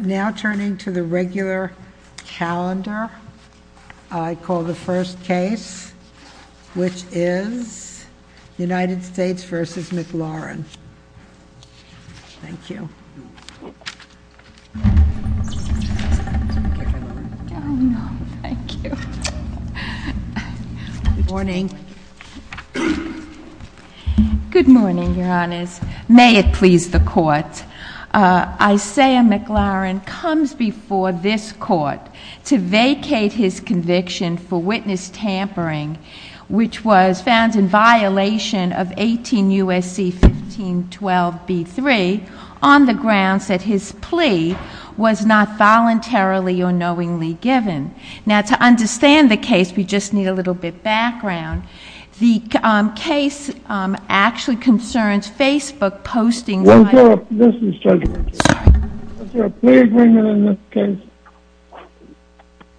Now turning to the regular calendar, I call the first case, which is United States v. McLaurin. Thank you. Good morning. Good morning, Your Honors. May it please the Court. Isaiah McLaurin comes before this Court to vacate his conviction for witness tampering, which was found in violation of 18 U.S.C. 1512b3 on the grounds that his plea was not voluntarily or knowingly given. Now to understand the case, we just need a little bit of background. The case actually concerns Facebook postings. Was there a plea agreement in this case?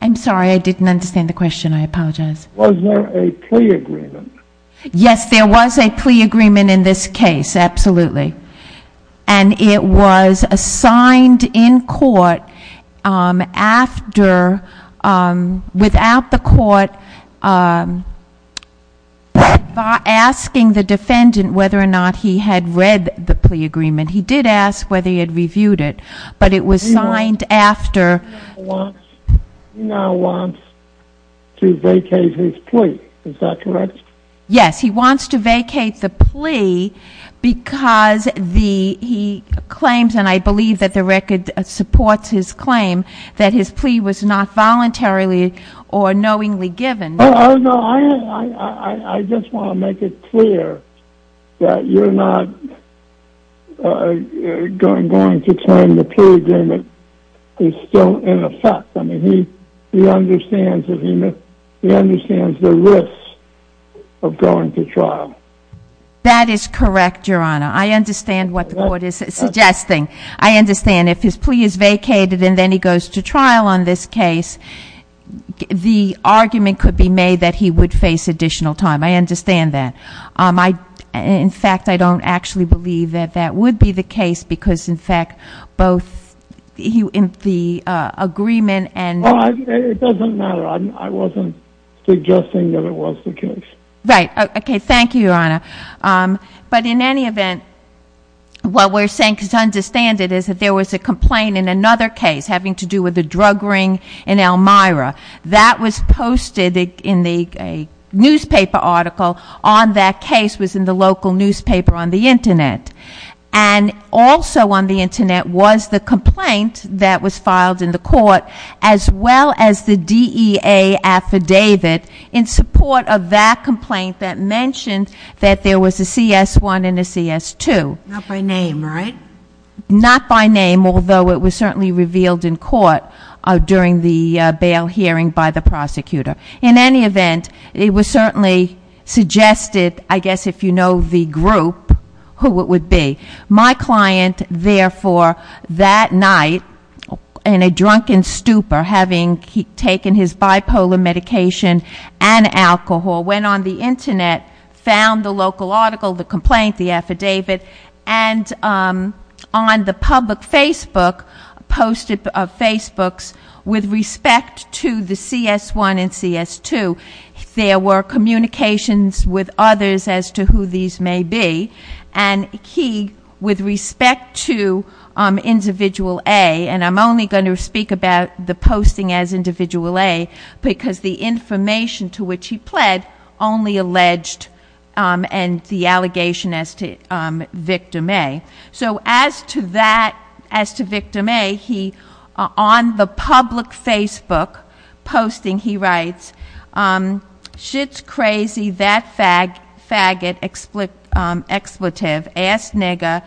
I'm sorry. I didn't understand the question. I apologize. Was there a plea agreement? Yes, there was a plea agreement in this case, absolutely. And it was assigned in court after, without the court asking the defendant whether or not he had read the plea agreement. He did ask whether he had reviewed it, but it was signed after. He now wants to vacate his plea. Is that correct? Yes, he wants to vacate the plea because he claims, and I believe that the record supports his claim, that his plea was not voluntarily or knowingly given. Oh, no. I just want to make it clear that you're not going to claim the plea agreement is still in effect. I mean, he understands the risks of going to trial. That is correct, Your Honor. I understand what the court is suggesting. I understand if his plea is vacated and then he goes to trial on this case, the argument could be made that he would face additional time. I understand that. In fact, I don't actually believe that that would be the case because, in fact, both the agreement and... Well, it doesn't matter. I wasn't suggesting that it was the case. Okay. Thank you, Your Honor. But in any event, what we're saying, because I understand it, is that there was a complaint in another case having to do with a drug ring in Elmira. That was posted in a newspaper article on that case was in the local newspaper on the as well as the DEA affidavit in support of that complaint that mentioned that there was a CS1 and a CS2. Not by name, right? Not by name, although it was certainly revealed in court during the bail hearing by the prosecutor. In any event, it was certainly suggested, I guess if you know the group, who it would be. My client, therefore, that night, in a drunken stupor, having taken his bipolar medication and alcohol, went on the Internet, found the local article, the complaint, the affidavit, and on the public Facebook, posted Facebooks with respect to the CS1 and CS2. There were communications with others as to who these may be. And he, with respect to Individual A, and I'm only going to speak about the posting as Individual A, because the information to which he pled only alleged and the allegation as to Victim A. So as to that, as to Victim A, he, on the public Facebook posting, he writes, Shit's crazy, that faggot, expletive, ass nigger,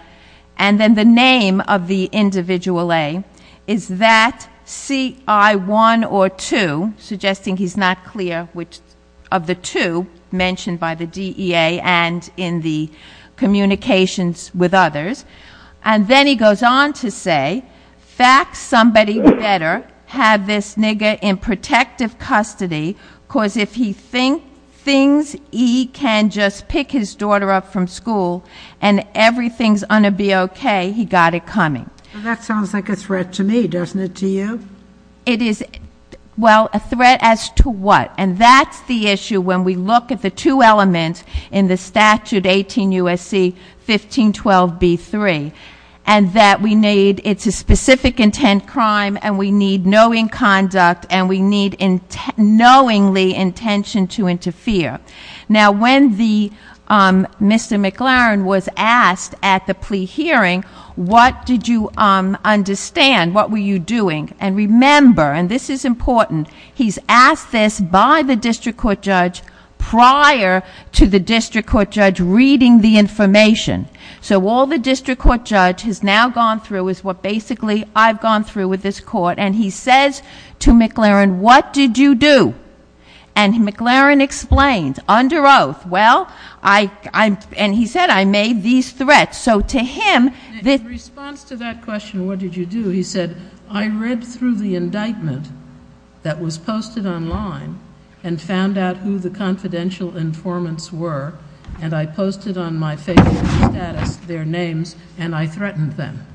and then the name of the Individual A. Is that CI1 or 2, suggesting he's not clear which of the two mentioned by the DEA and in the communications with others. And then he goes on to say, fax somebody better, have this nigger in protective custody, because if he thinks he can just pick his daughter up from school and everything's going to be okay, he got it coming. That sounds like a threat to me, doesn't it to you? It is, well, a threat as to what? And that's the issue when we look at the two elements in the statute 18 USC 1512B3. And that we need, it's a specific intent crime, and we need knowing conduct, and we need knowingly intention to interfere. Now when the, Mr. McLaren was asked at the plea hearing, what did you understand, what were you doing? And remember, and this is important, he's asked this by the district court judge prior to the district court judge reading the information. So all the district court judge has now gone through is what basically I've gone through with this court. And he says to McLaren, what did you do? And McLaren explains, under oath, well, and he said, I made these threats. So to him, the- I went through the indictment that was posted online and found out who the confidential informants were. And I posted on my favorite status their names, and I threatened them.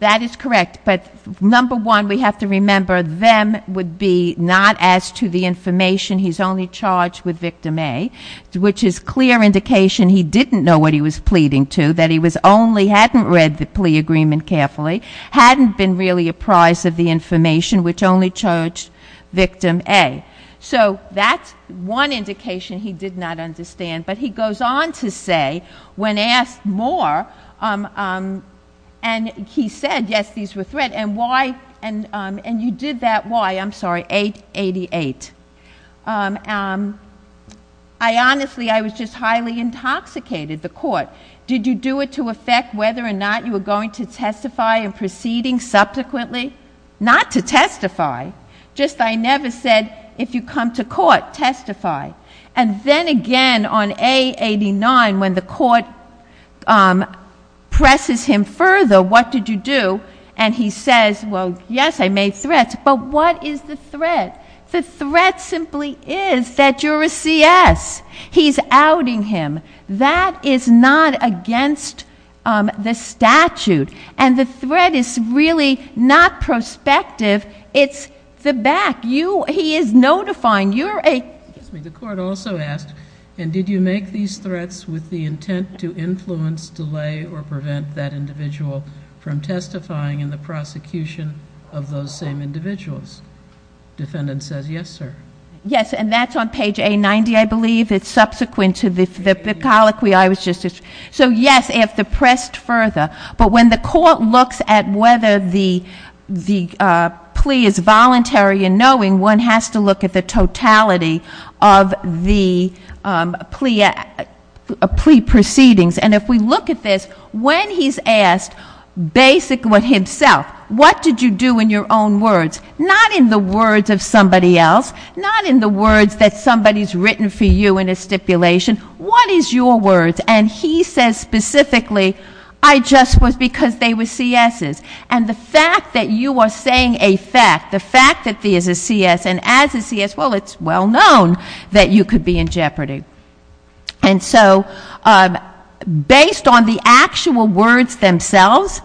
That is correct, but number one, we have to remember them would be not as to the information. He's only charged with victim A, which is clear indication he didn't know what he was pleading to. That he was only, hadn't read the plea agreement carefully, hadn't been really apprised of the information, which only charged victim A. So that's one indication he did not understand. But he goes on to say, when asked more, and he said, yes, these were threats. And why, and you did that, why? I'm sorry, 888. I honestly, I was just highly intoxicated. The court. Did you do it to affect whether or not you were going to testify in proceeding subsequently? Not to testify, just I never said, if you come to court, testify. And then again, on A89, when the court presses him further, what did you do? And he says, well, yes, I made threats, but what is the threat? The threat simply is that you're a CS. He's outing him. That is not against the statute. And the threat is really not prospective, it's the back. He is notifying, you're a- Excuse me, the court also asked, and did you make these threats with the intent to influence, delay, or prevent that individual from testifying in the prosecution of those same individuals? Defendant says, yes, sir. Yes, and that's on page A90, I believe. It's subsequent to the colloquy I was just, so yes, if the pressed further. But when the court looks at whether the plea is voluntary and knowing, one has to look at the totality of the plea proceedings. And if we look at this, when he's asked, basically himself, what did you do in your own words? Not in the words of somebody else, not in the words that somebody's written for you in a stipulation. What is your words? And he says specifically, I just was because they were CS's. And the fact that you are saying a fact, the fact that there's a CS and as a CS, well, it's well known that you could be in jeopardy. And so, based on the actual words themselves,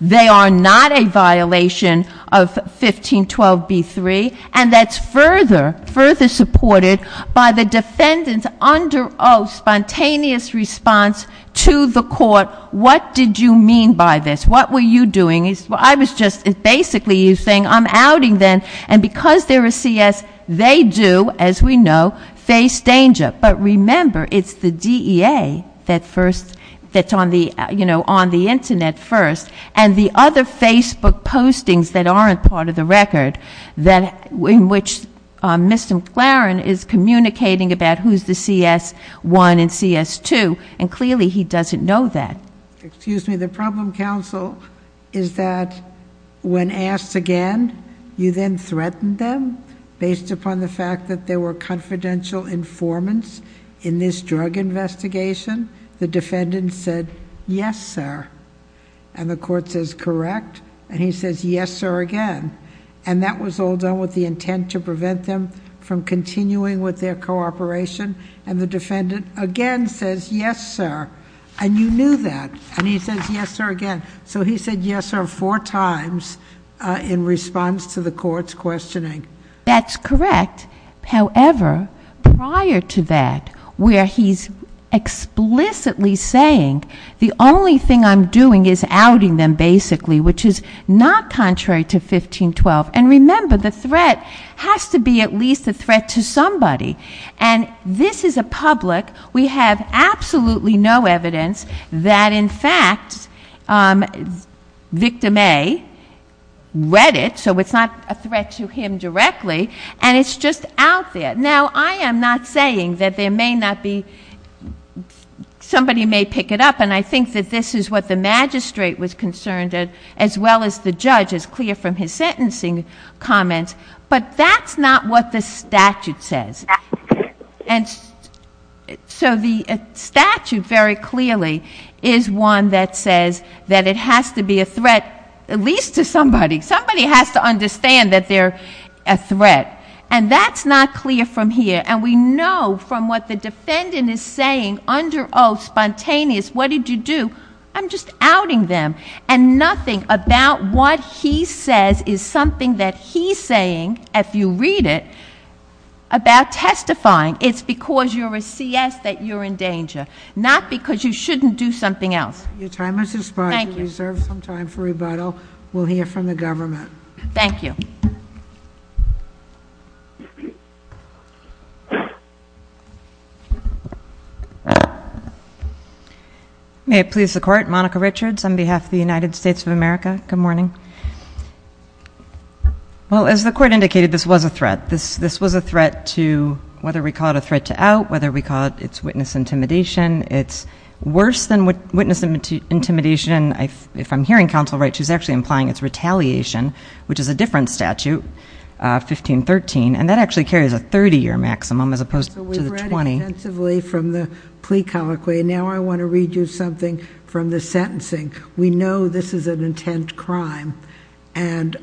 they are not a violation of 1512B3. And that's further supported by the defendant under, spontaneous response to the court, what did you mean by this? What were you doing? I was just basically saying, I'm outing them. And because they're a CS, they do, as we know, face danger. But remember, it's the DEA that's on the Internet first. And the other Facebook postings that aren't part of the record, in which Mr. McLaren is communicating about who's the CS1 and CS2. And clearly, he doesn't know that. Excuse me, the problem, counsel, is that when asked again, you then threatened them, based upon the fact that there were confidential informants in this drug investigation, the defendant said, yes, sir. And the court says, correct. And he says, yes, sir, again. And that was all done with the intent to prevent them from continuing with their cooperation. And the defendant, again, says, yes, sir. And you knew that. And he says, yes, sir, again. So he said, yes, sir, four times in response to the court's questioning. That's correct. However, prior to that, where he's explicitly saying, the only thing I'm doing is outing them, basically, which is not contrary to 1512. And remember, the threat has to be at least a threat to somebody. And this is a public. We have absolutely no evidence that, in fact, victim A read it. So it's not a threat to him directly. And it's just out there. Now, I am not saying that there may not be, somebody may pick it up. And I think that this is what the magistrate was concerned, as well as the judge, is clear from his sentencing comments. But that's not what the statute says. And so the statute, very clearly, is one that says that it has to be a threat, at least to somebody. Somebody has to understand that they're a threat. And that's not clear from here. And we know from what the defendant is saying under oath, spontaneous, what did you do? I'm just outing them. And nothing about what he says is something that he's saying, if you read it, about testifying. It's because you're a CS that you're in danger, not because you shouldn't do something else. Your time has expired. Thank you. You deserve some time for rebuttal. We'll hear from the government. Thank you. May it please the court, Monica Richards on behalf of the United States of America, good morning. Well, as the court indicated, this was a threat. This was a threat to, whether we call it a threat to out, whether we call it it's witness intimidation. It's worse than witness intimidation, if I'm hearing counsel right, she's actually implying it's retaliation, which is a different statute, 1513. And that actually carries a 30 year maximum, as opposed to the 20. So we've read intensively from the plea colloquy. Now I want to read you something from the sentencing. We know this is an intent crime. And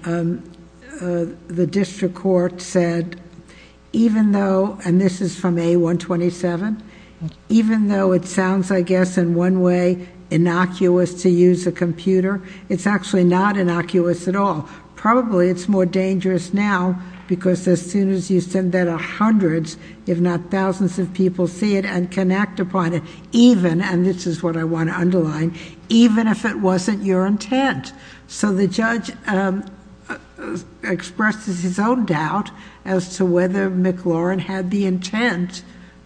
the district court said, even though, and this is from A127. Even though it sounds, I guess, in one way, innocuous to use a computer, it's actually not innocuous at all. Probably it's more dangerous now, because as soon as you send that to hundreds, if not thousands of people see it and can act upon it, even, and this is what I want to underline, even if it wasn't your intent, so the judge expresses his own doubt as to whether McLaurin had the intent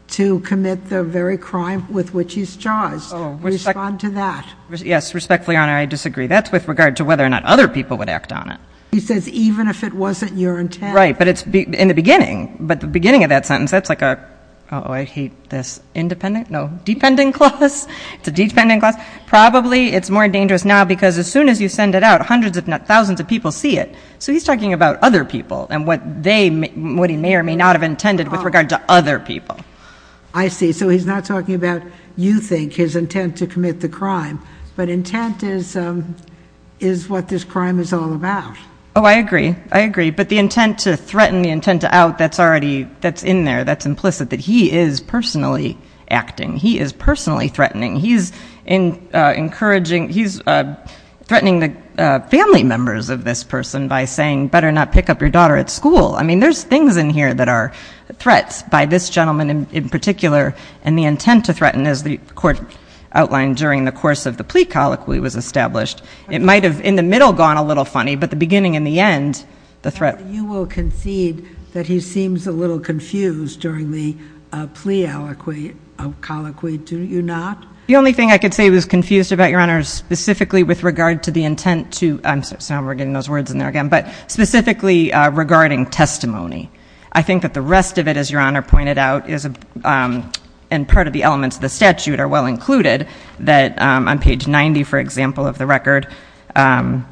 to commit the very crime with which he's charged. Respond to that. Yes, respectfully, your honor, I disagree. That's with regard to whether or not other people would act on it. He says, even if it wasn't your intent. Right, but it's in the beginning. But the beginning of that sentence, that's like a, I hate this, independent, no, it's a dependent clause, it's a dependent clause, probably it's more dangerous now, because as soon as you send it out, hundreds, if not thousands of people see it. So he's talking about other people and what they, what he may or may not have intended with regard to other people. I see, so he's not talking about, you think, his intent to commit the crime, but intent is what this crime is all about. I agree, I agree, but the intent to threaten, the intent to out, that's already, that's in there, that's implicit. That he is personally acting, he is personally threatening. He's encouraging, he's threatening the family members of this person by saying, better not pick up your daughter at school. I mean, there's things in here that are threats by this gentleman in particular. And the intent to threaten, as the court outlined during the course of the plea colloquy was established. It might have, in the middle, gone a little funny, but the beginning and the end, the threat. You will concede that he seems a little confused during the plea colloquy, do you not? The only thing I could say that was confused about, Your Honor, is specifically with regard to the intent to, I'm sorry, so now we're getting those words in there again, but specifically regarding testimony. I think that the rest of it, as Your Honor pointed out, is, and part of the elements of the statute are well included. That on page 90, for example, of the record, that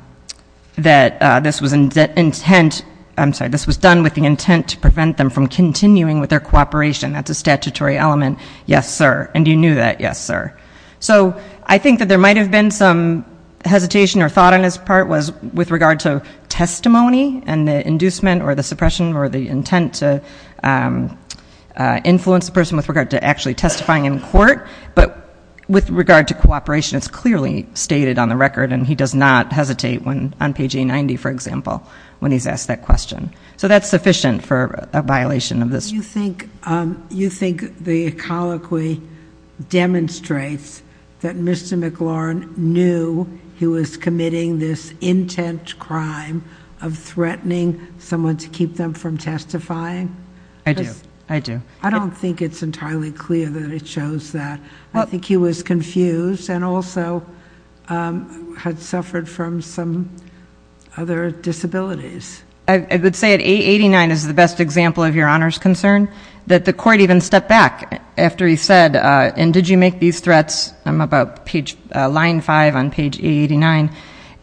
this was intent, I'm sorry, this was done with the intent to prevent them from continuing with their cooperation, that's a statutory element. Yes, sir, and you knew that, yes, sir. So, I think that there might have been some hesitation or thought on his part was with regard to testimony and the inducement or the suppression or the intent to influence the person with regard to actually testifying in court. But with regard to cooperation, it's clearly stated on the record, and he does not hesitate on page A90, for example, when he's asked that question. So that's sufficient for a violation of this. You think the colloquy demonstrates that Mr. McLaurin knew he was committing this intent crime of threatening someone to keep them from testifying? I do, I do. I don't think it's entirely clear that it shows that. I think he was confused and also had suffered from some other disabilities. I would say that A89 is the best example of your Honor's concern. That the court even stepped back after he said, and did you make these threats, I'm about line five on page A89.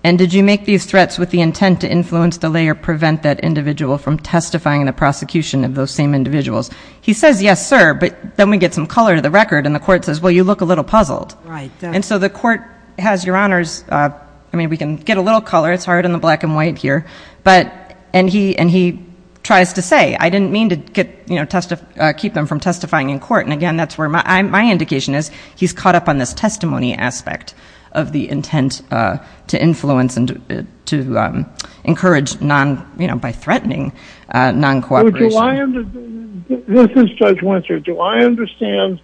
And did you make these threats with the intent to influence, delay, or prevent that individual from testifying in the prosecution of those same individuals? He says, yes, sir, but then we get some color to the record, and the court says, well, you look a little puzzled. And so the court has your Honor's, I mean, we can get a little color, it's hard in the black and white here. But, and he tries to say, I didn't mean to keep them from testifying in court. And again, that's where my indication is, he's caught up on this testimony aspect of the intent to influence and to encourage by threatening non-cooperation. This is Judge Winters. Do I understand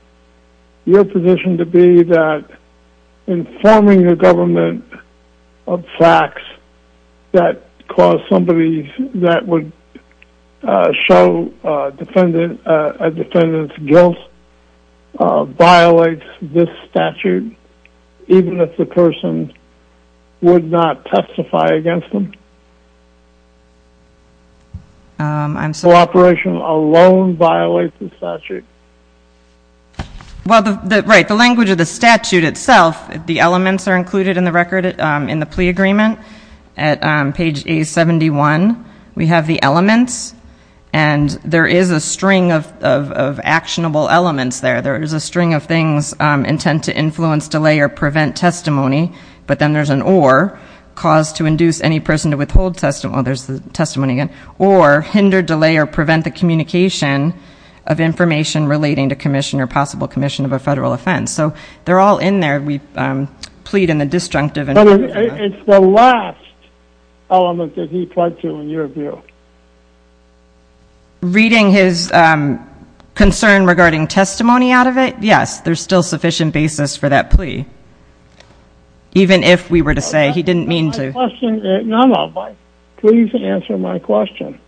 your position to be that informing the government of facts that cause somebody that would show a defendant's guilt violates this statute? Even if the person would not testify against them? I'm sorry. Cooperation alone violates the statute. Well, the, right, the language of the statute itself, the elements are included in the record in the plea agreement. At page A71, we have the elements. And there is a string of actionable elements there. There is a string of things, intent to influence, delay, or prevent testimony. But then there's an or, cause to induce any person to withhold testimony. Well, there's the testimony again. Or, hinder, delay, or prevent the communication of information relating to commission or possible commission of a federal offense. So they're all in there. We plead in the disjunctive. But it's the last element that he pled to in your view. Reading his concern regarding testimony out of it? Yes, there's still sufficient basis for that plea. Even if we were to say he didn't mean to. No, no, please answer my question.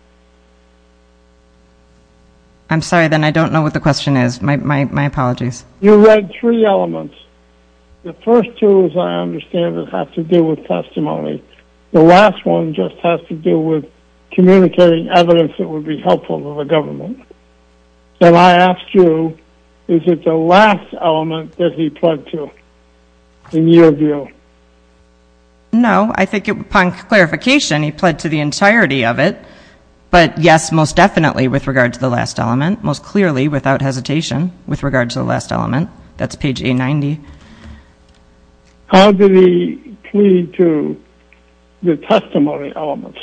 I'm sorry, then I don't know what the question is. My apologies. You read three elements. The first two, as I understand it, have to do with testimony. The last one just has to do with communicating evidence that would be helpful to the government. Then I ask you, is it the last element that he pled to in your view? No, I think upon clarification, he pled to the entirety of it. But, yes, most definitely with regard to the last element. Most clearly, without hesitation, with regard to the last element. That's page A90. How did he plead to the testimony elements?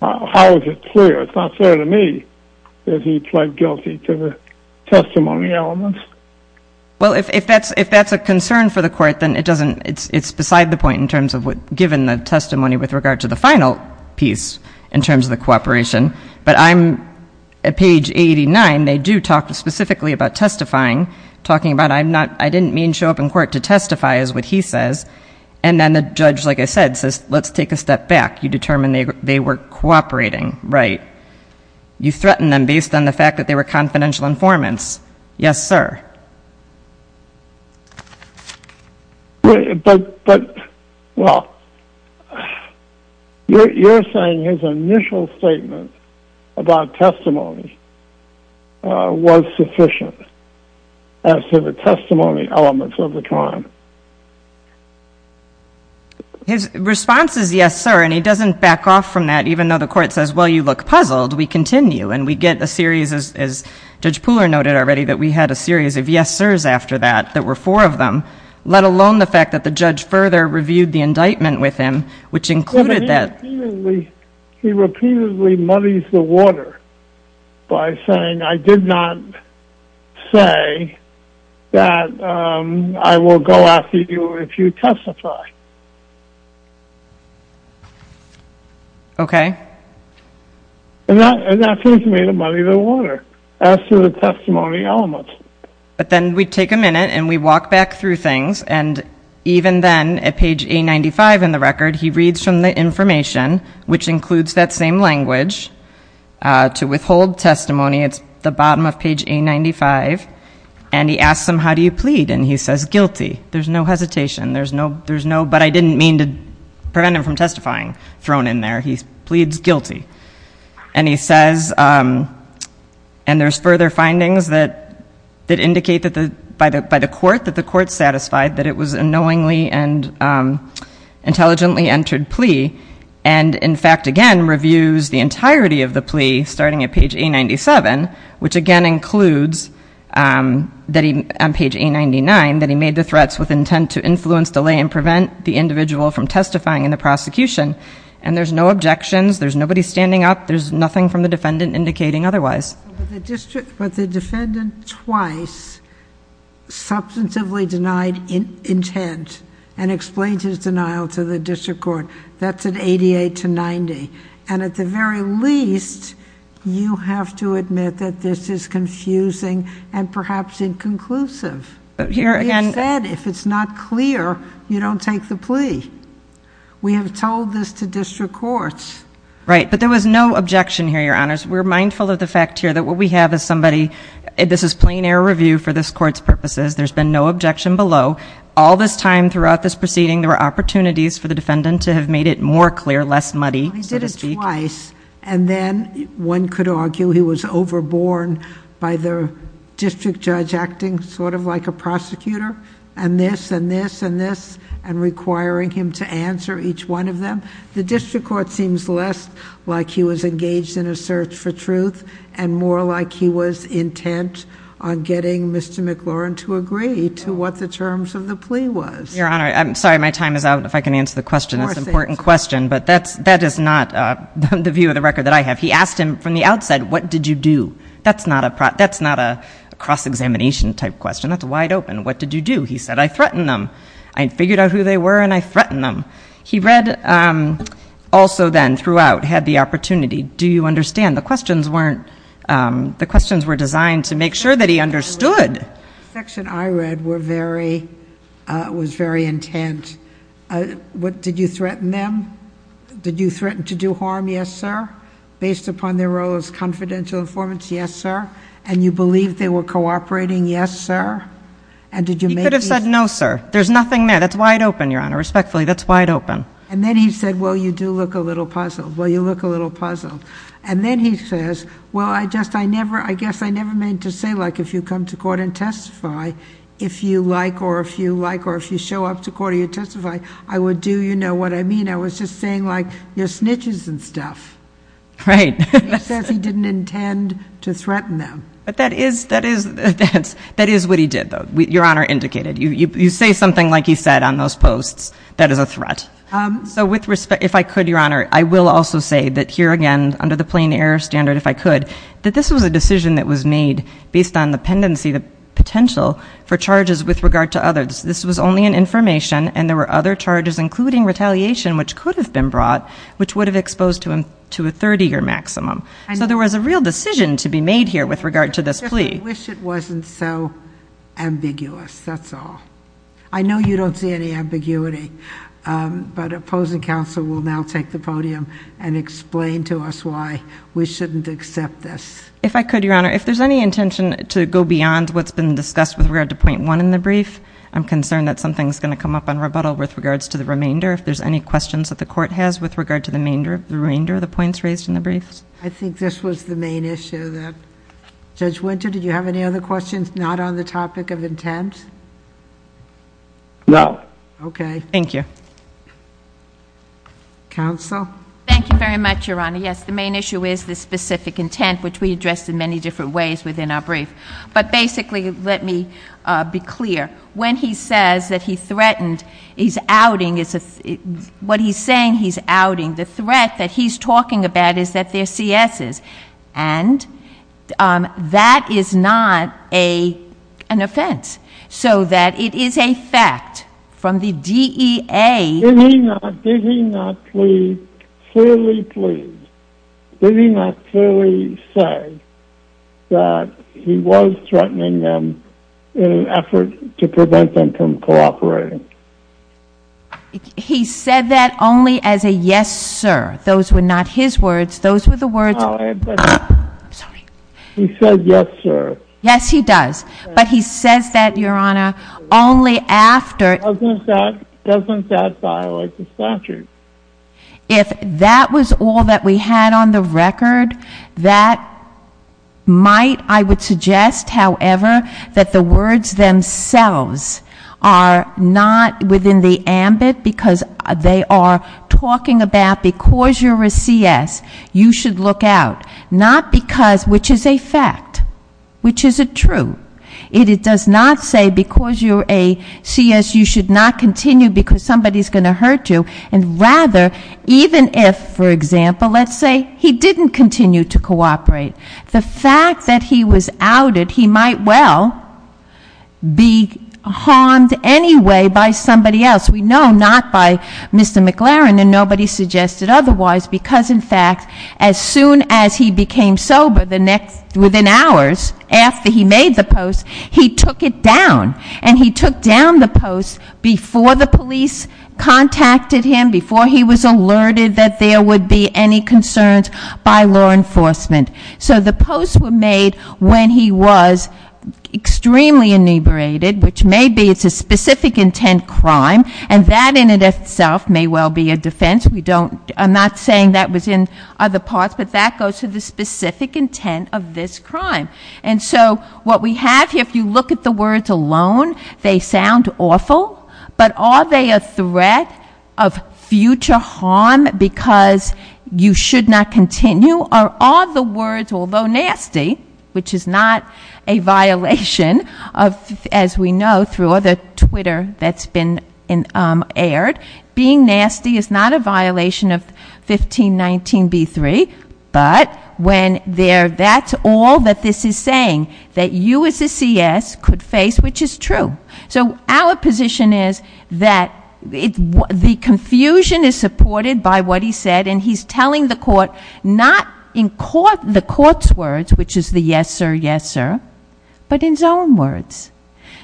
How is it clear? It's not clear to me that he pled guilty to the testimony elements. Well, if that's a concern for the court, then it's beside the point in terms of what, given the testimony with regard to the final piece in terms of the cooperation. But I'm at page 89, they do talk specifically about testifying, talking about I didn't mean to show up in court to testify is what he says. And then the judge, like I said, says let's take a step back. You determine they were cooperating. Right. You threaten them based on the fact that they were confidential informants. Yes, sir. But, well, you're saying his initial statement about testimony was sufficient as to the testimony elements of the crime. His response is yes, sir, and he doesn't back off from that. Even though the court says, well, you look puzzled, we continue. And we get a series, as Judge Pooler noted already, that we had a series of yes sirs after that, that were four of them, let alone the fact that the judge further reviewed the indictment with him, which included that. He repeatedly muddies the water by saying I did not say that I will go after you if you testify. Okay. And that seems to me to muddy the water as to the testimony elements. But then we take a minute and we walk back through things, and even then, at page A95 in the record, he reads from the information, which includes that same language, to withhold testimony. It's the bottom of page A95. And he asks them how do you plead, and he says guilty. There's no hesitation. But I didn't mean to prevent him from testifying thrown in there. He pleads guilty. And he says, and there's further findings that indicate that by the court, that the court satisfied that it was a knowingly and intelligently entered plea, and in fact, again, reviews the entirety of the plea starting at page A97, which again includes on page A99 that he made the threats with intent to influence, delay, and prevent the individual from testifying in the prosecution. And there's no objections. There's nobody standing up. There's nothing from the defendant indicating otherwise. But the defendant twice substantively denied intent and explained his denial to the district court. That's at 88 to 90. And at the very least, you have to admit that this is confusing and perhaps inconclusive. He said if it's not clear, you don't take the plea. We have told this to district courts. Right, but there was no objection here, Your Honors. We're mindful of the fact here that what we have is somebody, this is plain air review for this court's purposes. There's been no objection below. All this time throughout this proceeding, there were opportunities for the defendant to have made it more clear, less muddy, so to speak. He did it twice, and then one could argue he was overborne by the district judge acting sort of like a prosecutor and this and this and this and requiring him to answer each one of them. The district court seems less like he was engaged in a search for truth and more like he was intent on getting Mr. McLaurin to agree to what the terms of the plea was. Your Honor, I'm sorry. My time is out. If I can answer the question, it's an important question. But that is not the view of the record that I have. He asked him from the outside, what did you do? That's not a cross-examination type question. That's wide open. What did you do? He said, I threatened them. I figured out who they were, and I threatened them. He read also then throughout, had the opportunity. Do you understand? The questions were designed to make sure that he understood. The section I read was very intent. Did you threaten them? Did you threaten to do harm? Yes, sir. Based upon their role as confidential informants? Yes, sir. And you believed they were cooperating? Yes, sir. You could have said no, sir. There's nothing there. That's wide open, Your Honor. Respectfully, that's wide open. And then he said, well, you do look a little puzzled. Well, you look a little puzzled. And then he says, well, I guess I never meant to say, like, if you come to court and testify, if you like or if you like or if you show up to court and you testify, I would do, you know what I mean. I was just saying, like, your snitches and stuff. Right. He says he didn't intend to threaten them. But that is what he did, though, Your Honor indicated. You say something like he said on those posts that is a threat. So with respect, if I could, Your Honor, I will also say that here again under the plain error standard, if I could, that this was a decision that was made based on the pendency, the potential for charges with regard to others. This was only an information, and there were other charges, including retaliation, which could have been brought, which would have exposed him to a 30-year maximum. So there was a real decision to be made here with regard to this plea. I just wish it wasn't so ambiguous. That's all. I know you don't see any ambiguity, but opposing counsel will now take the podium and explain to us why we shouldn't accept this. If I could, Your Honor, if there's any intention to go beyond what's been discussed with regard to point one in the brief, I'm concerned that something's going to come up on rebuttal with regards to the remainder. If there's any questions that the court has with regard to the remainder of the points raised in the brief. I think this was the main issue that, Judge Winter, did you have any other questions not on the topic of intent? No. Okay. Thank you. Counsel? Thank you very much, Your Honor. Yes, the main issue is the specific intent, which we addressed in many different ways within our brief. But basically, let me be clear. When he says that he threatened his outing, what he's saying he's outing, the threat that he's talking about is that they're C.S.'s. And that is not an offense. So that it is a fact from the DEA. Did he not clearly say that he was threatening them in an effort to prevent them from cooperating? He said that only as a yes, sir. Those were not his words. He said yes, sir. Yes, he does. But he says that, Your Honor, only after. Doesn't that violate the statute? If that was all that we had on the record, that might, I would suggest, however, that the words themselves are not within the ambit because they are talking about because you're a C.S., you should look out. Not because, which is a fact, which is a truth. It does not say because you're a C.S., you should not continue because somebody's going to hurt you. And rather, even if, for example, let's say he didn't continue to cooperate, the fact that he was outed, he might well be harmed anyway by somebody else. We know not by Mr. McLaren and nobody suggested otherwise because, in fact, as soon as he became sober within hours after he made the post, he took it down. And he took down the post before the police contacted him, before he was alerted that there would be any concerns by law enforcement. So the posts were made when he was extremely inebriated, which may be it's a specific intent crime, and that in itself may well be a defense. We don't, I'm not saying that was in other parts, but that goes to the specific intent of this crime. And so what we have here, if you look at the words alone, they sound awful, but are they a threat of future harm because you should not continue? You are all the words, although nasty, which is not a violation of, as we know through other Twitter that's been aired, being nasty is not a violation of 1519B3. But when they're, that's all that this is saying, that you as a CS could face, which is true. So our position is that the confusion is supported by what he said. And he's telling the court not in the court's words, which is the yes sir, yes sir, but in his own words.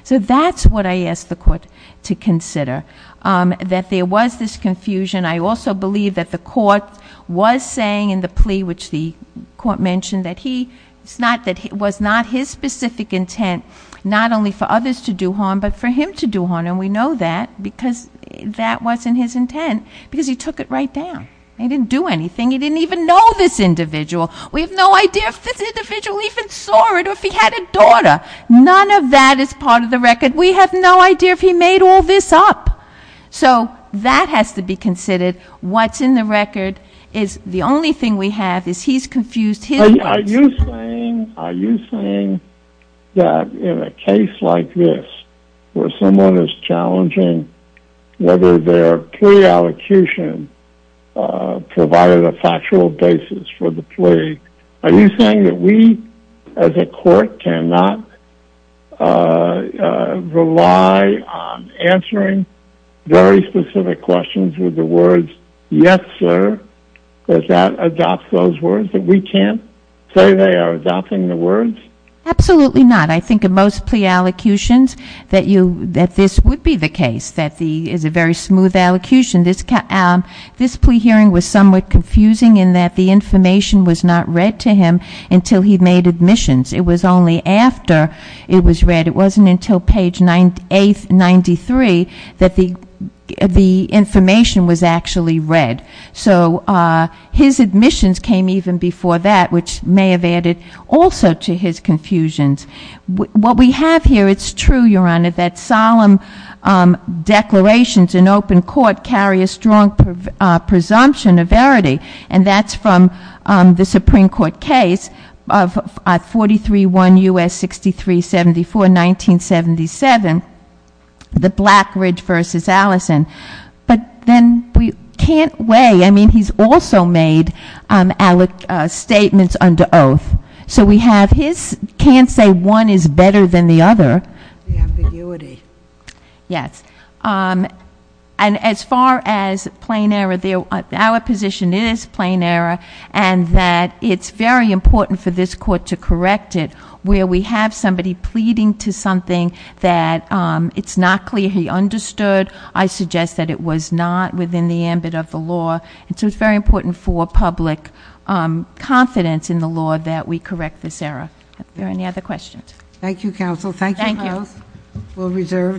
So that's what I asked the court to consider, that there was this confusion. I also believe that the court was saying in the plea, which the court mentioned, that it was not his specific intent, not only for others to do harm, but for him to do harm. And we know that because that wasn't his intent, because he took it right down. He didn't do anything. He didn't even know this individual. We have no idea if this individual even saw it or if he had a daughter. None of that is part of the record. We have no idea if he made all this up. So that has to be considered. What's in the record is the only thing we have is he's confused his words. Are you saying that in a case like this, where someone is challenging whether their plea allocution provided a factual basis for the plea, are you saying that we as a court cannot rely on answering very specific questions with the words, yes sir, does that adopt those words, that we can't say they are adopting the words? Absolutely not. I think in most plea allocutions that this would be the case, that is a very smooth allocution. This plea hearing was somewhat confusing in that the information was not read to him until he made admissions. It was only after it was read. It wasn't until page 893 that the information was actually read. So his admissions came even before that, which may have added also to his confusions. What we have here, it's true, Your Honor, that solemn declarations in open court carry a strong presumption of verity. And that's from the Supreme Court case of 431 U.S. 6374, 1977, the Blackridge v. Allison. But then we can't weigh, I mean, he's also made alloc statements under oath. So we have his, can't say one is better than the other. The ambiguity. Yes. And as far as plain error, our position is plain error. And that it's very important for this court to correct it, where we have somebody pleading to something that it's not clear he understood. I suggest that it was not within the ambit of the law. And so it's very important for public confidence in the law that we correct this error. Are there any other questions? Thank you, counsel. Thank you both. We'll reserve a decision.